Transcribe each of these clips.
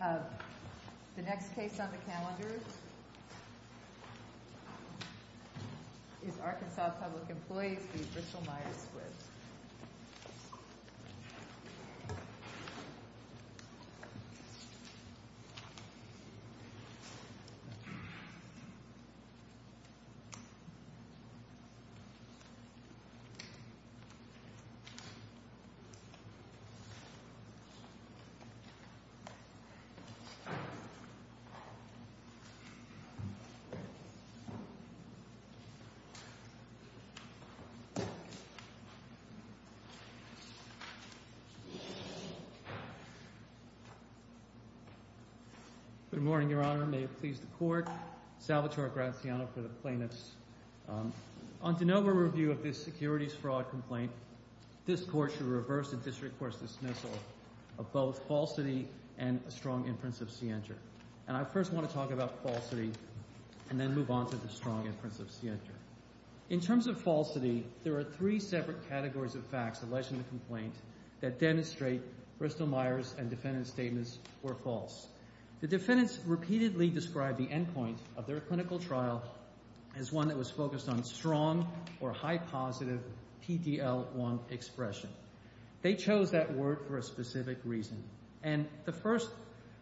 The next case on the calendar is Arkansas Public Employees v. Bristol-Myers Squibb. Good morning, Your Honor, and may it please the Court, Salvatore Graziano for the Plaintiffs. On De Novo's review of this securities fraud complaint, this Court should reverse the District Court's dismissal of both falsity and a strong inference of scienter. And I first want to talk about falsity and then move on to the strong inference of scienter. In terms of falsity, there are three separate categories of facts alleged in the complaint that demonstrate Bristol-Myers and defendant's statements were false. The defendants repeatedly described the endpoint of their clinical trial as one that was focused on strong or high-positive PD-L1 expression. They chose that word for a specific reason. And the first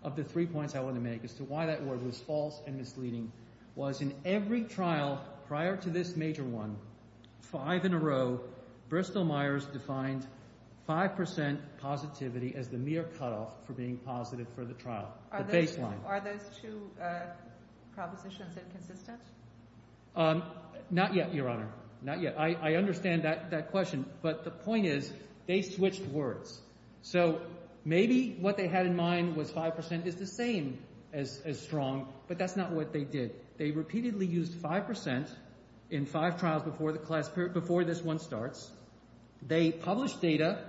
of the three points I want to make as to why that word was false and misleading was in every trial prior to this major one, five in a row, Bristol-Myers defined 5% positivity as the mere cutoff for being positive for the trial, the baseline. Are those two propositions inconsistent? Not yet, Your Honor. Not yet. I understand that question, but the point is they switched words. So maybe what they had in mind was 5% is the same as strong, but that's not what they did. They repeatedly used 5% in five trials before this one starts. They published data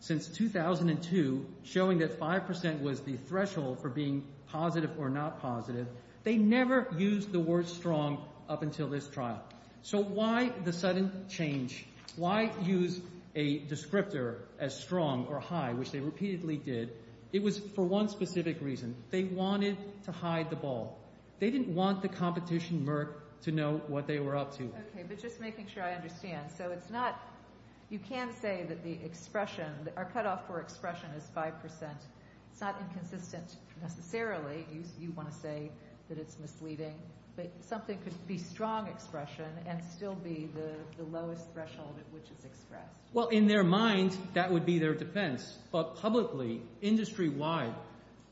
since 2002 showing that 5% was the threshold for being positive or not positive. They never used the word strong up until this trial. So why the sudden change? Why use a descriptor as strong or high, which they repeatedly did? It was for one specific reason. They wanted to hide the ball. They didn't want the competition merc to know what they were up to. Okay, but just making sure I understand. So it's not, you can say that the expression, our cutoff for expression is 5%. It's not inconsistent necessarily. You want to say that it's misleading, but something could be strong expression and still be the lowest threshold at which it's expressed. Well, in their mind, that would be their defense. But publicly, industry-wide,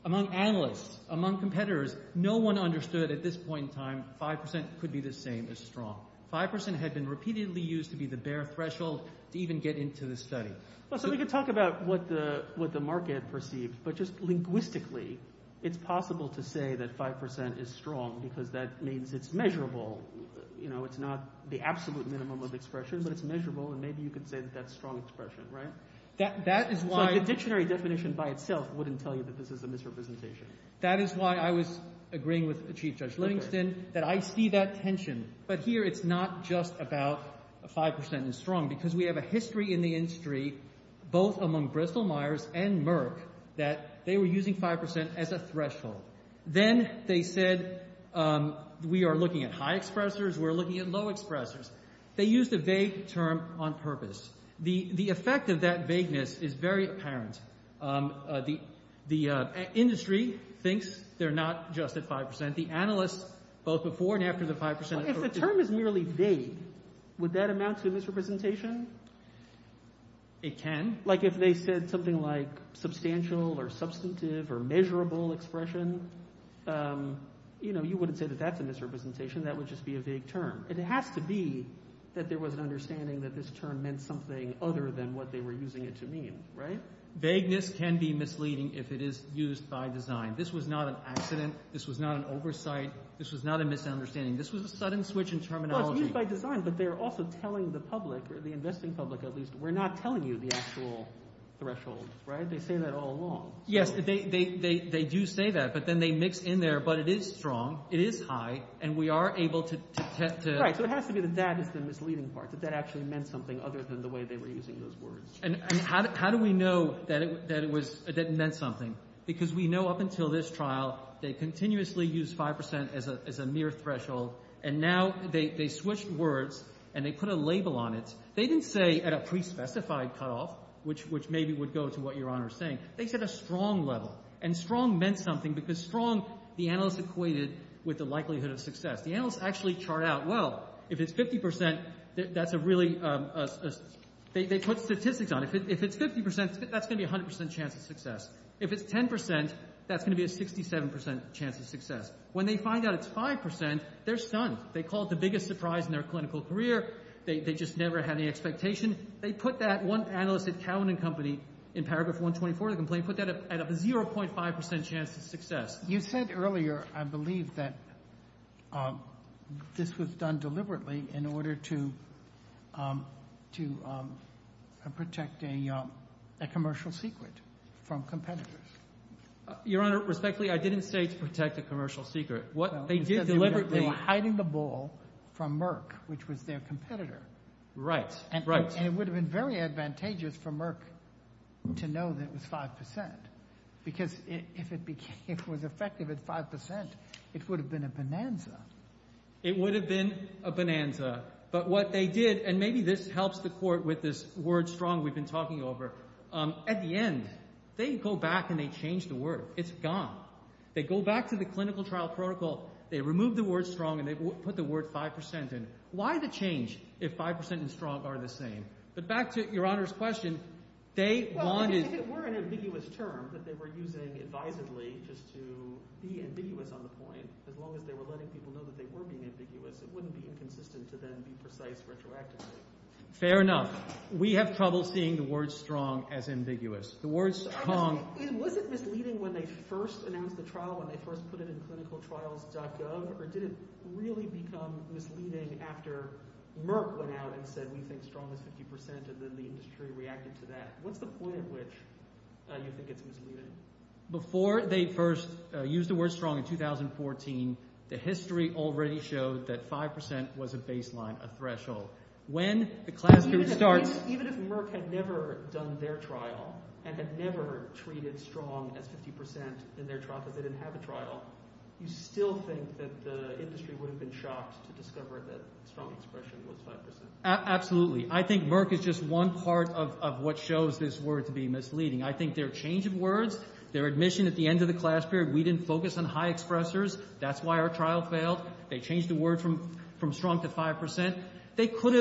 among analysts, among competitors, no one understood at this point in time 5% could be the same as strong. 5% had been repeatedly used to be the bare threshold to even get into the study. Well, so we could talk about what the market perceived, but just linguistically, it's possible to say that 5% is strong because that means it's measurable. It's not the absolute minimum of expression, but it's measurable. And maybe you could say that that's strong expression, right? So the dictionary definition by itself wouldn't tell you that this is a misrepresentation. That is why I was agreeing with Chief Judge Livingston that I see that tension. But here, it's not just about 5% is strong because we have a history in the industry, both among Bristol-Myers and Merck, that they were using 5% as a threshold. Then they said, we are looking at high expressors, we're looking at low expressors. They used a vague term on purpose. The effect of that vagueness is very apparent. The industry thinks they're not just at 5%. The analysts, both before and after the 5%— If the term is merely vague, would that amount to misrepresentation? It can. Like if they said something like substantial or substantive or measurable expression, you know, you wouldn't say that that's a misrepresentation. That would just be a vague term. And it has to be that there was an understanding that this term meant something other than what they were using it to mean, right? Vagueness can be misleading if it is used by design. This was not an accident. This was not an oversight. This was not a misunderstanding. This was a sudden switch in terminology. It's used by design, but they're also telling the public, or the investing public at least, we're not telling you the actual thresholds, right? They say that all along. Yes, they do say that, but then they mix in there, but it is strong, it is high, and we are able to— Right, so it has to be that that is the misleading part, that that actually meant something other than the way they were using those words. And how do we know that it meant something? Because we know up until this trial, they continuously used 5% as a mere threshold, and now they switched words, and they put a label on it. They didn't say at a pre-specified cutoff, which maybe would go to what Your Honor is saying. They said a strong level. And strong meant something, because strong, the analysts equated with the likelihood of success. The analysts actually chart out, well, if it's 50%, that's a really— they put statistics on it. If it's 10%, that's going to be a 67% chance of success. When they find out it's 5%, they're stunned. They call it the biggest surprise in their clinical career. They just never had any expectation. They put that—one analyst at Cowan & Company, in paragraph 124 of the complaint, put that at a 0.5% chance of success. You said earlier, I believe, that this was done deliberately in order to Your Honor, respectfully, I didn't say to protect a commercial secret. What they did deliberately— They were hiding the ball from Merck, which was their competitor. Right, right. And it would have been very advantageous for Merck to know that it was 5%. Because if it was effective at 5%, it would have been a bonanza. It would have been a bonanza. But what they did—and maybe this helps the Court with this word strong we've been talking over. At the end, they go back and they change the word. It's gone. They go back to the clinical trial protocol. They remove the word strong and they put the word 5%. And why the change if 5% and strong are the same? But back to Your Honor's question, they wanted— If it were an ambiguous term that they were using advisedly just to be ambiguous on the point, as long as they were letting people know that they were being ambiguous, it wouldn't be inconsistent to then be precise retroactively. Fair enough. We have trouble seeing the word strong as ambiguous. The word strong— Was it misleading when they first announced the trial, when they first put it in clinicaltrials.gov? Or did it really become misleading after Merck went out and said, we think strong is 50% and then the industry reacted to that? What's the point at which you think it's misleading? Before they first used the word strong in 2014, the history already showed that 5% was a baseline, a threshold. When the class period starts— Even if Merck had never done their trial and had never treated strong as 50% in their trial because they didn't have a trial, you still think that the industry would have been shocked to discover that strong expression was 5%? Absolutely. I think Merck is just one part of what shows this word to be misleading. I think their change of words, their admission at the end of the class period, we didn't focus on high expressors. That's why our trial failed. They changed the word from strong to 5%. They could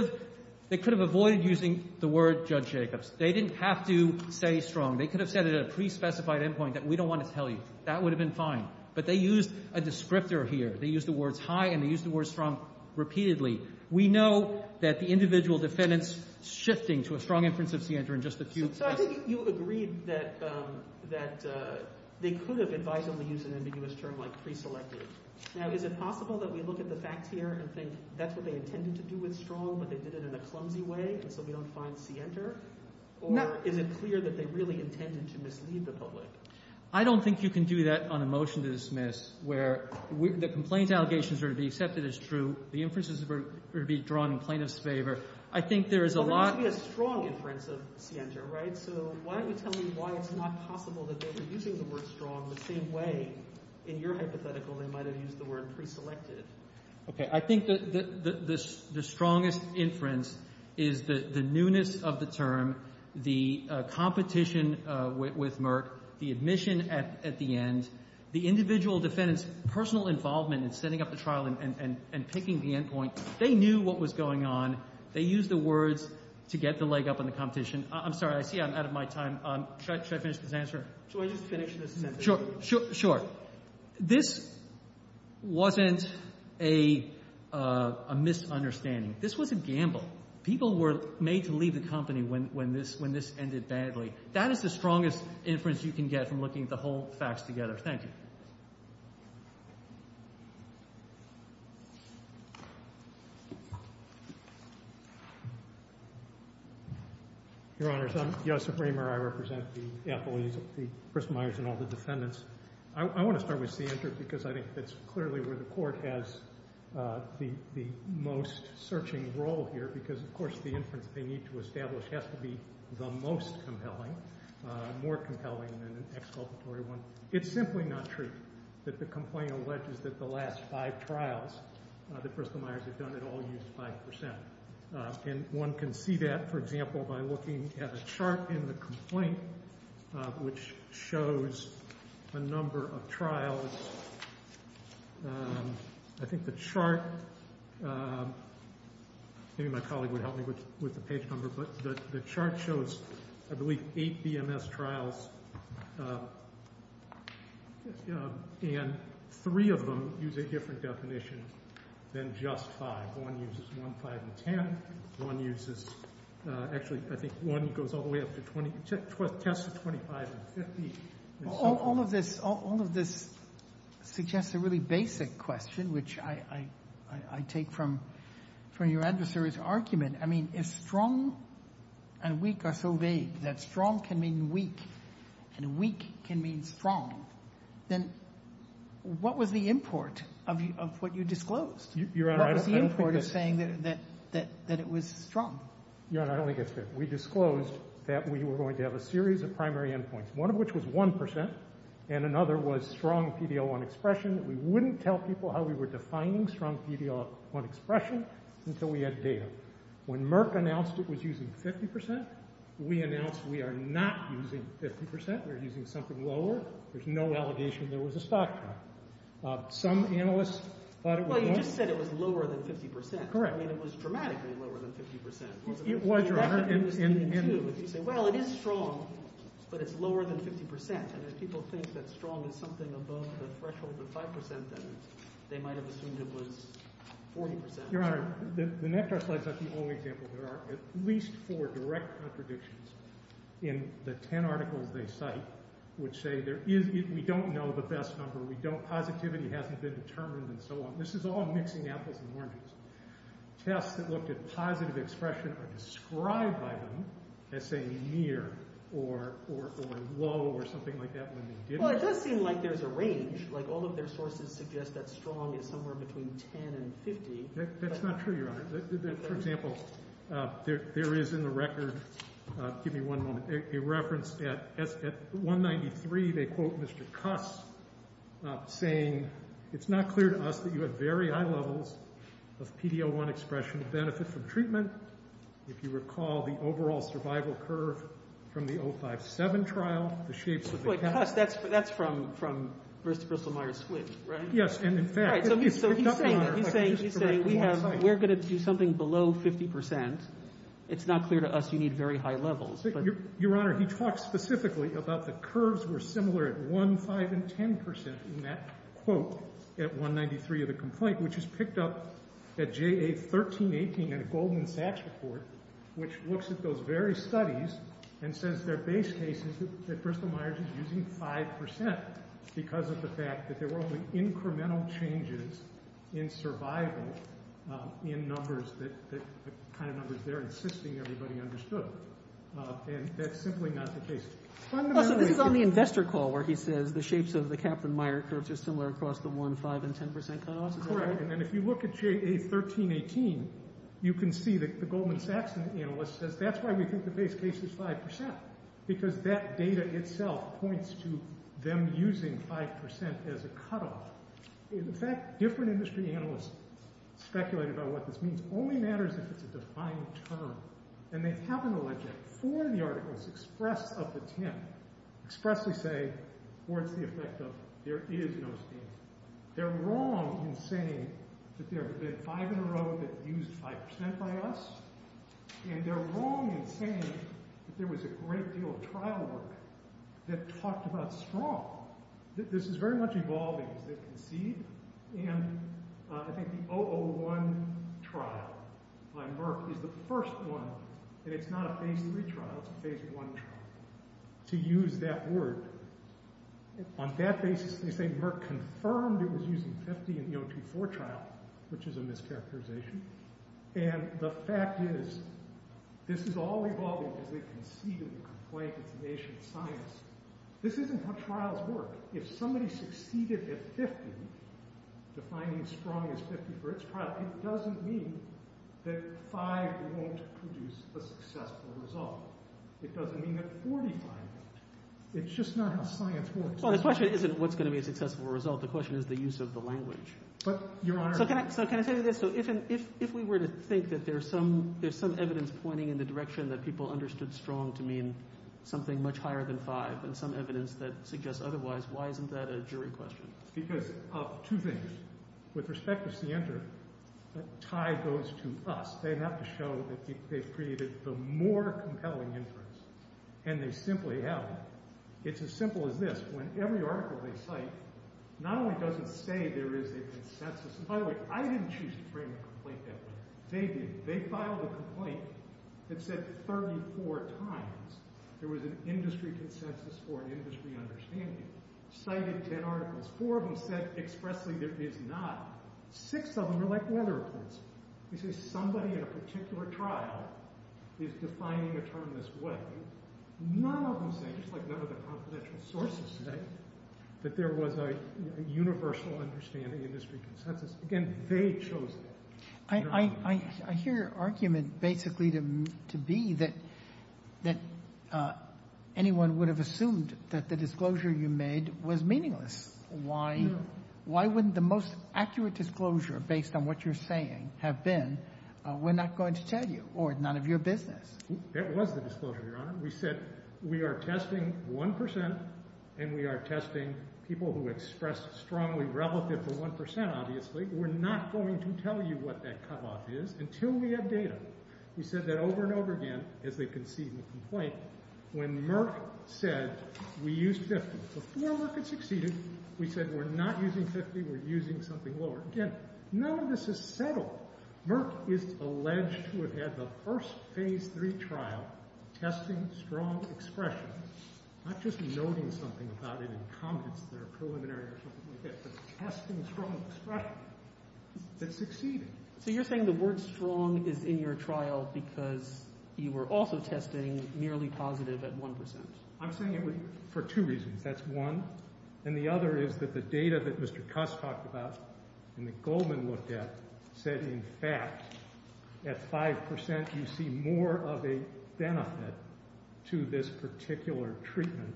have avoided using the word Judge Jacobs. They didn't have to say strong. They could have said it at a pre-specified endpoint that we don't want to tell you. That would have been fine. But they used a descriptor here. They used the words high and they used the word strong repeatedly. We know that the individual defendants shifting to a strong inference of Sientra in just a few— So I think you agreed that they could have advised them to use an ambiguous term like pre-selected. Now, is it possible that we look at the facts here and think that's what they intended to do with strong, but they did it in a clumsy way and so we don't find Sientra? Or is it clear that they really intended to mislead the public? I don't think you can do that on a motion to dismiss where the complaint allegations are to be accepted as true, the inferences are to be drawn in plaintiff's favor. I think there is a lot— But there has to be a strong inference of Sientra, right? So why don't you tell me why it's not possible that they were using the word strong the same way in your hypothetical they might have used the word pre-selected? Okay. I think the strongest inference is the newness of the term, the competition with Merck, the admission at the end, the individual defendants' personal involvement in setting up the trial and picking the end point. They knew what was going on. They used the words to get the leg up in the competition. I'm sorry. I see I'm out of my time. Should I finish this answer? Should I just finish this sentence? Sure. Sure. This wasn't a misunderstanding. This was a gamble. People were made to leave the company when this ended badly. That is the strongest inference you can get from looking at the whole facts together. Thank you. Your Honors, I'm Joseph Ramer. I represent the employees of the—Chris Myers and all the defendants. I want to start with C entered because I think that's clearly where the court has the most searching role here because, of course, the inference they need to establish has to be the most compelling, more compelling than an exculpatory one. It's simply not true that the complaint alleges that the last five trials that Bristol-Myers had done had all used 5%. And one can see that, for example, by looking at a chart in the complaint which shows a number of trials. I think the chart—maybe my colleague would help me with the page number, but the chart shows, I believe, eight BMS trials, and three of them use a different definition than just 5. One uses 1, 5, and 10. One uses—actually, I think 1 goes all the way up to 20. Tests are 25 and 50. All of this suggests a really basic question, which I take from your adversary's argument. I mean, if strong and weak are so vague that strong can mean weak and weak can mean strong, then what was the import of what you disclosed? What was the import of saying that it was strong? Your Honor, I don't think it's fair. We disclosed that we were going to have a series of primary endpoints, one of which was 1%, and another was strong PD-L1 expression. We wouldn't tell people how we were defining strong PD-L1 expression until we had data. When Merck announced it was using 50%, we announced we are not using 50%. We're using something lower. There's no allegation there was a stock trial. Some analysts thought it was— Well, you just said it was lower than 50%. Correct. I mean, it was dramatically lower than 50%. It was, Your Honor. That's what you were saying, too. If you say, well, it is strong, but it's lower than 50%, and if people think that strong is something above the threshold of 5%, then they might have assumed it was 40%. Your Honor, the NEPTAR slide is not the only example. There are at least four direct contradictions in the 10 articles they cite, which say there is—we don't know the best number. We don't—positivity hasn't been determined and so on. This is all mixing apples and oranges. Tests that looked at positive expression are described by them as saying near or low or something like that when they didn't. Well, it does seem like there's a range. All of their sources suggest that strong is somewhere between 10 and 50. That's not true, Your Honor. For example, there is in the record—give me one moment—a reference at 193, they quote Mr. Cuss saying, it's not clear to us that you have very high levels of PD-01 expression to benefit from treatment. If you recall the overall survival curve from the 057 trial, the shapes of the— But Cuss, that's from Bristol-Myers-Squibb, right? Yes, and in fact— All right, so he's saying we're going to do something below 50%. It's not clear to us you need very high levels, but— Similar at 1, 5, and 10% in that quote at 193 of the complaint, which is picked up at JA 1318 in a Goldman Sachs report, which looks at those very studies and says their base case is that Bristol-Myers is using 5% because of the fact that there were only incremental changes in survival in numbers that—the kind of numbers they're insisting everybody understood. And that's simply not the case. So this is on the investor call where he says the shapes of the Kaplan-Meyer curves are similar across the 1, 5, and 10% cutoffs, is that right? Correct, and if you look at JA 1318, you can see that the Goldman Sachs analyst says that's why we think the base case is 5% because that data itself points to them using 5% as a cutoff. In fact, different industry analysts speculated about what this means. It only matters if it's a defined term. And they happen to let you, before the article is expressed up to 10, expressly say, what's the effect of, there is no scheme. They're wrong in saying that there have been five in a row that used 5% by us, and they're wrong in saying that there was a great deal of trial work that talked about strong. This is very much evolving as they've conceived, and I think the 001 trial by Merck is the first one, and it's not a phase 3 trial, it's a phase 1 trial, to use that word. On that basis, they say Merck confirmed it was using 50 in the 024 trial, which is a mischaracterization. And the fact is, this is all evolving as they concede and complain to the nation of science. This isn't how trials work. If somebody succeeded at 50, defining strong as 50 for its trial, it doesn't mean that 5 won't produce a successful result. It doesn't mean that 40 find it. It's just not how science works. Well, the question isn't what's going to be a successful result. The question is the use of the language. But, Your Honor. So can I tell you this? So if we were to think that there's some evidence pointing in the direction that people understood strong to mean something much higher than 5, and some evidence that suggests otherwise, why isn't that a jury question? Because of two things. With respect to CENTER, that tie goes to us. They have to show that they've created the more compelling inference. And they simply have. It's as simple as this. When every article they cite, not only does it say there is a consensus, and by the way, I didn't choose to frame a complaint that way. They did. They filed a complaint that said 34 times there was an industry consensus for an industry understanding. Cited 10 articles. Four of them said expressly there is not. Six of them are like weather reports. They say somebody at a particular trial is defining a term this way. None of them say, just like none of the confidential sources say, that there was a universal understanding industry consensus. Again, they chose that. I hear your argument basically to be that anyone would have assumed that the disclosure you made was meaningless. Why wouldn't the most accurate disclosure, based on what you're saying, have been, we're not going to tell you, or none of your business? It was the disclosure, Your Honor. We said, we are testing 1%, and we are testing people who express strongly relative to 1%, obviously. We're not going to tell you what that cutoff is until we have data. We said that over and over again, as they concede in the complaint, when Merck said, we used 50. Before Merck had succeeded, we said, we're not using 50. We're using something lower. Again, none of this is settled. Merck is alleged to have had the first phase 3 trial testing strong expression. Not just noting something about it in comments that are preliminary or something like that, but testing strong expression that succeeded. So you're saying the word strong is in your trial because you were also testing merely positive at 1%? I'm saying it for two reasons. That's one. And the other is that the data that Mr. Cuss talked about and that Goldman looked at said, in fact, at 5% you see more of a benefit to this particular treatment,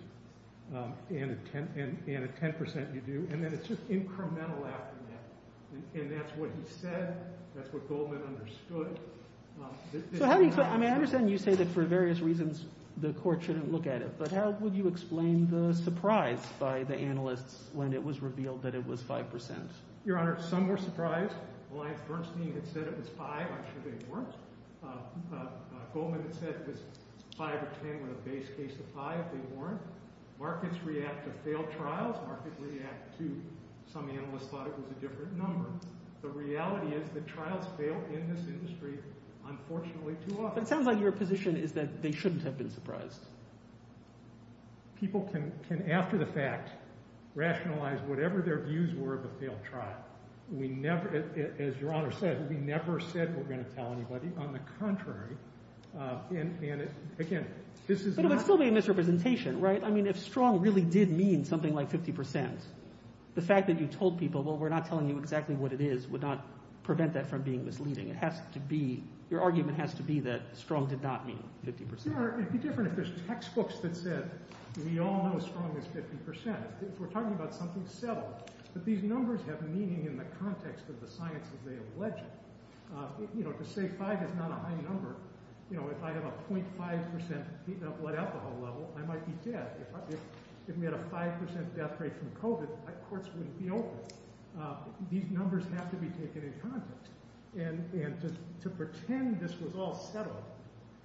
and at 10% you do. And then it's just incremental after that. And that's what he said. That's what Goldman understood. I mean, I understand you say that for various reasons the court shouldn't look at it. But how would you explain the surprise by the analysts when it was revealed that it was 5%? Your Honor, some were surprised. Alliance Bernstein had said it was 5%. I'm sure they weren't. Goldman had said it was 5% or 10% with a base case of 5%. They weren't. Markets react to failed trials. Markets react to some analysts thought it was a different number. The reality is that trials fail in this industry, unfortunately, too often. It sounds like your position is that they shouldn't have been surprised. People can, after the fact, rationalize whatever their views were of a failed trial. We never, as Your Honor said, we never said we're going to tell anybody. On the contrary, and again, this is not— But it would still be a misrepresentation, right? If strong really did mean something like 50%, the fact that you told people, well, we're not telling you exactly what it is, would not prevent that from being misleading. It has to be— Your argument has to be that strong did not mean 50%. Your Honor, it would be different if there's textbooks that said, we all know strong is 50%. If we're talking about something subtle. But these numbers have meaning in the context of the science as they allege it. To say 5 is not a high number, if I have a 0.5% blood alcohol level, I might be dead. If we had a 5% death rate from COVID, courts wouldn't be open. These numbers have to be taken in context. And to pretend this was all subtle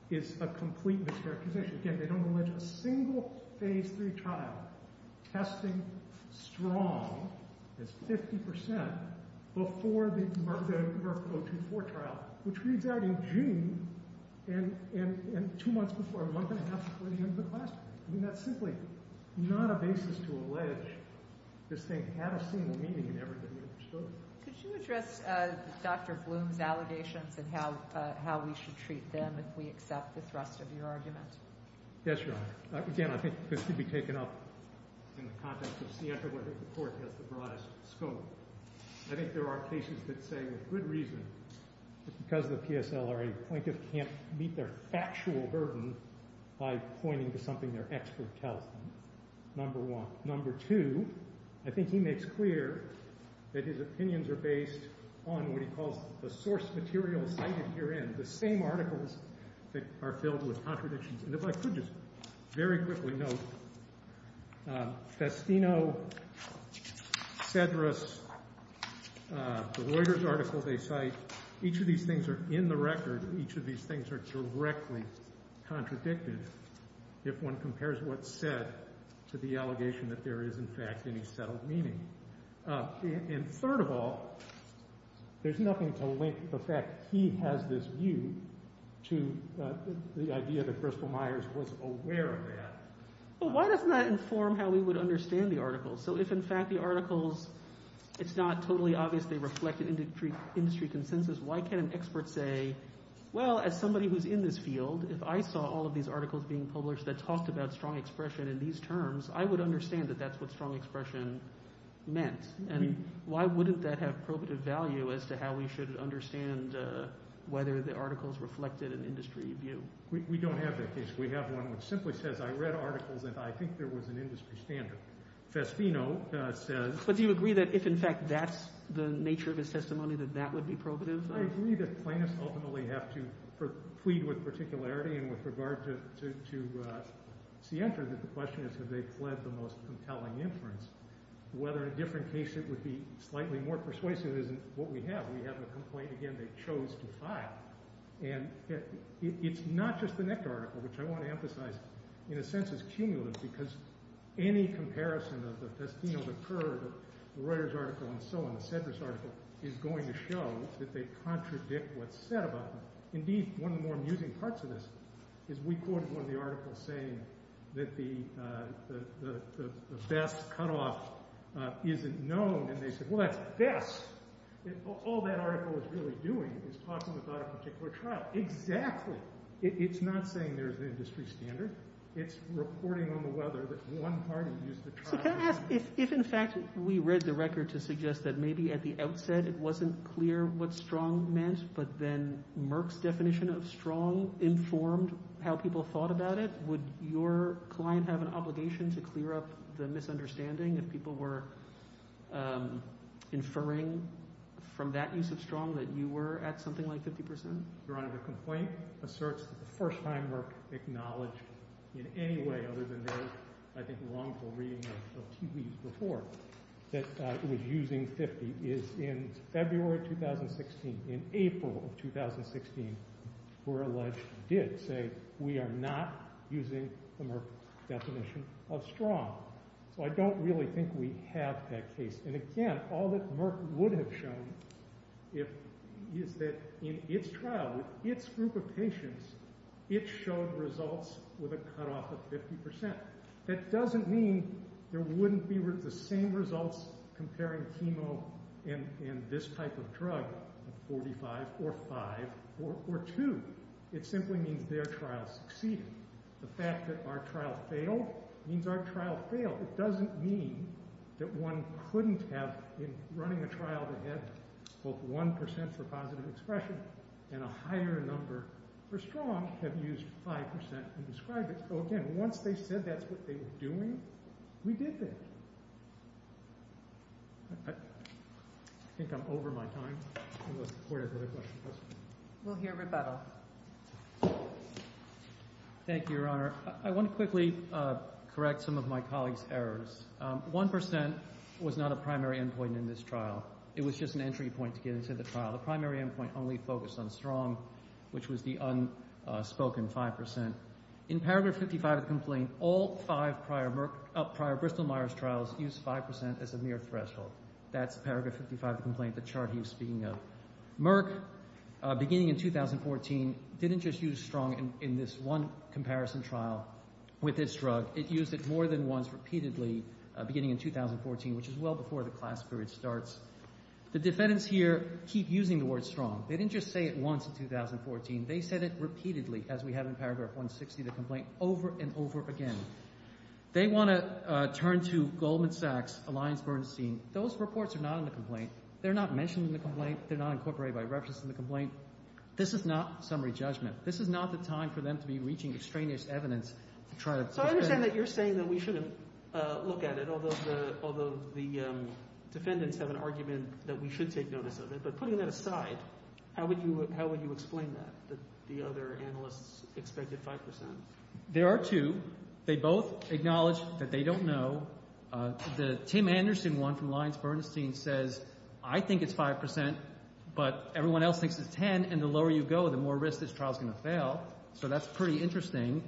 is a complete mischaracterization. Again, they don't allege a single phase three trial testing strong as 50% before the Merck O2-4 trial, which reads out in June and two months before, month and a half before the end of the class. I mean, that's simply not a basis to allege this thing had a single meaning in everything we understood. Could you address Dr. Bloom's allegations and how we should treat them if we accept the thrust of your argument? Yes, Your Honor. Again, I think this could be taken up in the context of Sienta where the court has the broadest scope. I think there are cases that say with good reason, because the PSLRA plaintiff can't meet their factual burden, by pointing to something their expert tells them, number one. Number two, I think he makes clear that his opinions are based on what he calls the source material cited herein, the same articles that are filled with contradictions. And if I could just very quickly note, Festino, Cedrus, the Reuters article they cite, each of these things are in the record. Each of these things are directly contradicted if one compares what's said to the allegation that there is, in fact, any settled meaning. And third of all, there's nothing to link the fact he has this view to the idea that Crystal Myers was aware of that. Well, why doesn't that inform how we would understand the articles? So if, in fact, the articles, it's not totally obvious they reflect an industry consensus, why can't an expert say, well, as somebody who's in this field, if I saw all of these articles being published that talked about strong expression in these terms, I would understand that that's what strong expression meant. And why wouldn't that have probative value as to how we should understand whether the articles reflected an industry view? We don't have that case. We have one which simply says, I read articles and I think there was an industry standard. Festino says... But do you agree that if, in fact, that's the nature of his testimony, that that would be probative? I agree that plaintiffs ultimately have to plead with particularity and with regard to Sientra, that the question is, have they fled the most compelling inference? Whether in a different case it would be slightly more persuasive isn't what we have. We have a complaint, again, they chose to file. And it's not just the next article, which I want to emphasize, in a sense, is cumulative, because any comparison of the Festino, the Kerr, the Reuters article, and so on, the Sedra's article is going to show that they contradict what's said about them. Indeed, one of the more amusing parts of this is we quoted one of the articles saying that the best cutoff isn't known. And they said, well, that's best. All that article is really doing is talking about a particular trial. Exactly. It's not saying there's an industry standard. It's reporting on the weather that one party used the trial. So can I ask, if, in fact, we read the record to suggest that maybe at the outset, it wasn't clear what strong meant, but then Merck's definition of strong informed how people thought about it, would your client have an obligation to clear up the misunderstanding if people were inferring from that use of strong that you were at something like 50%? Your Honor, the complaint asserts that the first time Merck acknowledged in any way other than their, I think, wrongful reading of TV's report, that it was using 50% is in February 2016. In April of 2016, we're alleged to have did say, we are not using the Merck definition of strong. So I don't really think we have that case. And again, all that Merck would have shown is that in its trial, with its group of patients, it showed results with a cutoff of 50%. That doesn't mean there wouldn't be the same results comparing chemo and this type of drug of 45 or five or two. It simply means their trial succeeded. The fact that our trial failed means our trial failed. It doesn't mean that one couldn't have, in running a trial that had both 1% for positive expression and a higher number for strong, have used 5% and described it. So again, once they said that's what they were doing, we did that. I think I'm over my time. I'm going to support another question. Yes, ma'am. We'll hear rebuttal. Thank you, Your Honor. I want to quickly correct some of my colleague's errors. 1% was not a primary endpoint in this trial. It was just an entry point to get into the trial. The primary endpoint only focused on strong, which was the unspoken 5%. In paragraph 55 of the complaint, all five prior Bristol-Myers trials used 5% as a mere threshold. That's paragraph 55 of the complaint, the chart he was speaking of. Merck, beginning in 2014, didn't just use strong in this one comparison trial with this drug. It used it more than once repeatedly beginning in 2014, which is well before the class period starts. The defendants here keep using the word strong. They didn't just say it once in 2014. They said it repeatedly, as we have in paragraph 160 of the complaint, over and over again. They want to turn to Goldman Sachs, Alliance Bernstein. Those reports are not in the complaint. They're not mentioned in the complaint. They're not incorporated by reference in the complaint. This is not summary judgment. This is not the time for them to be reaching extraneous evidence to try to- So I understand that you're saying that we shouldn't look at it, although the defendants have an argument that we should take notice of it. But putting that aside, how would you explain that? The other analysts expected 5%. There are two. They both acknowledge that they don't know. The Tim Anderson one from Alliance Bernstein says, I think it's 5%, but everyone else thinks it's 10, and the lower you go, the more risk this trial is going to fail. So that's pretty interesting.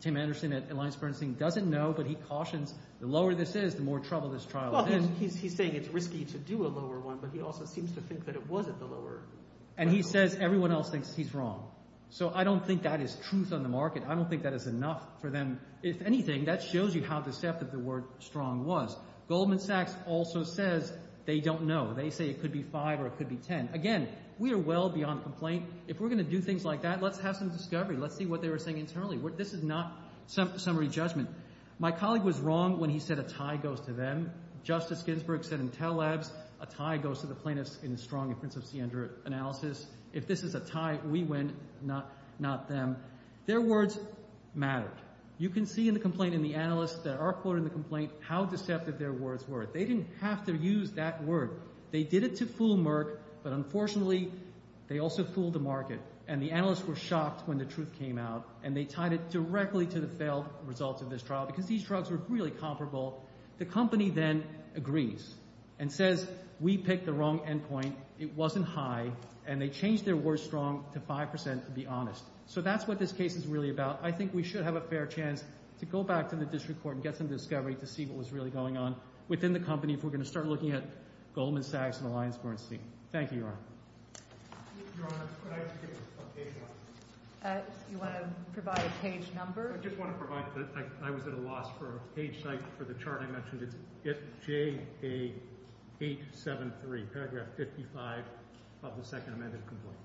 Tim Anderson at Alliance Bernstein doesn't know, but he cautions the lower this is, the more trouble this trial is. He's saying it's risky to do a lower one, but he also seems to think that it wasn't the lower. And he says everyone else thinks he's wrong. So I don't think that is truth on the market. I don't think that is enough for them. If anything, that shows you how deceptive the word strong was. Goldman Sachs also says they don't know. They say it could be 5 or it could be 10. Again, we are well beyond complaint. If we're going to do things like that, let's have some discovery. Let's see what they were saying internally. This is not summary judgment. My colleague was wrong when he said a tie goes to them. Justice Ginsburg said in Telabs, a tie goes to the plaintiffs in the strong and Prince of Siendra analysis. If this is a tie, we win, not them. Their words mattered. You can see in the complaint in the analysts that are quoted in the complaint how deceptive their words were. They didn't have to use that word. They did it to fool Merck, but unfortunately, they also fooled the market. And the analysts were shocked when the truth came out. And they tied it directly to the failed results of this trial because these drugs were really comparable. The company then agrees and says, we picked the wrong endpoint. It wasn't high. And they changed their word strong to 5%, to be honest. So that's what this case is really about. I think we should have a fair chance to go back to the district court and get some discovery to see what was really going on within the company if we're going to start looking at Goldman Sachs and Allianz Bernstein. Thank you, Your Honor. Your Honor, could I just get a page number? You want to provide a page number? I just want to provide that I was at a loss for a page site for the chart I mentioned. It's FJA873, paragraph 55 of the second amended complaint.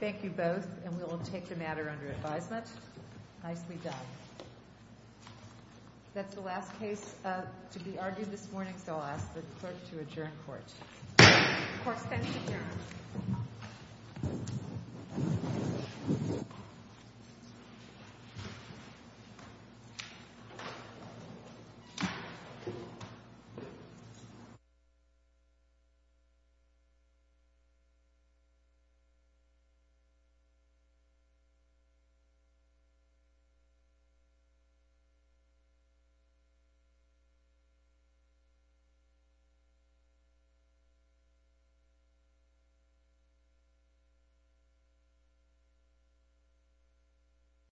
Thank you both. And we will take the matter under advisement. Nicely done. That's the last case to be argued this morning. So I'll ask the court to adjourn court. The court stands adjourned.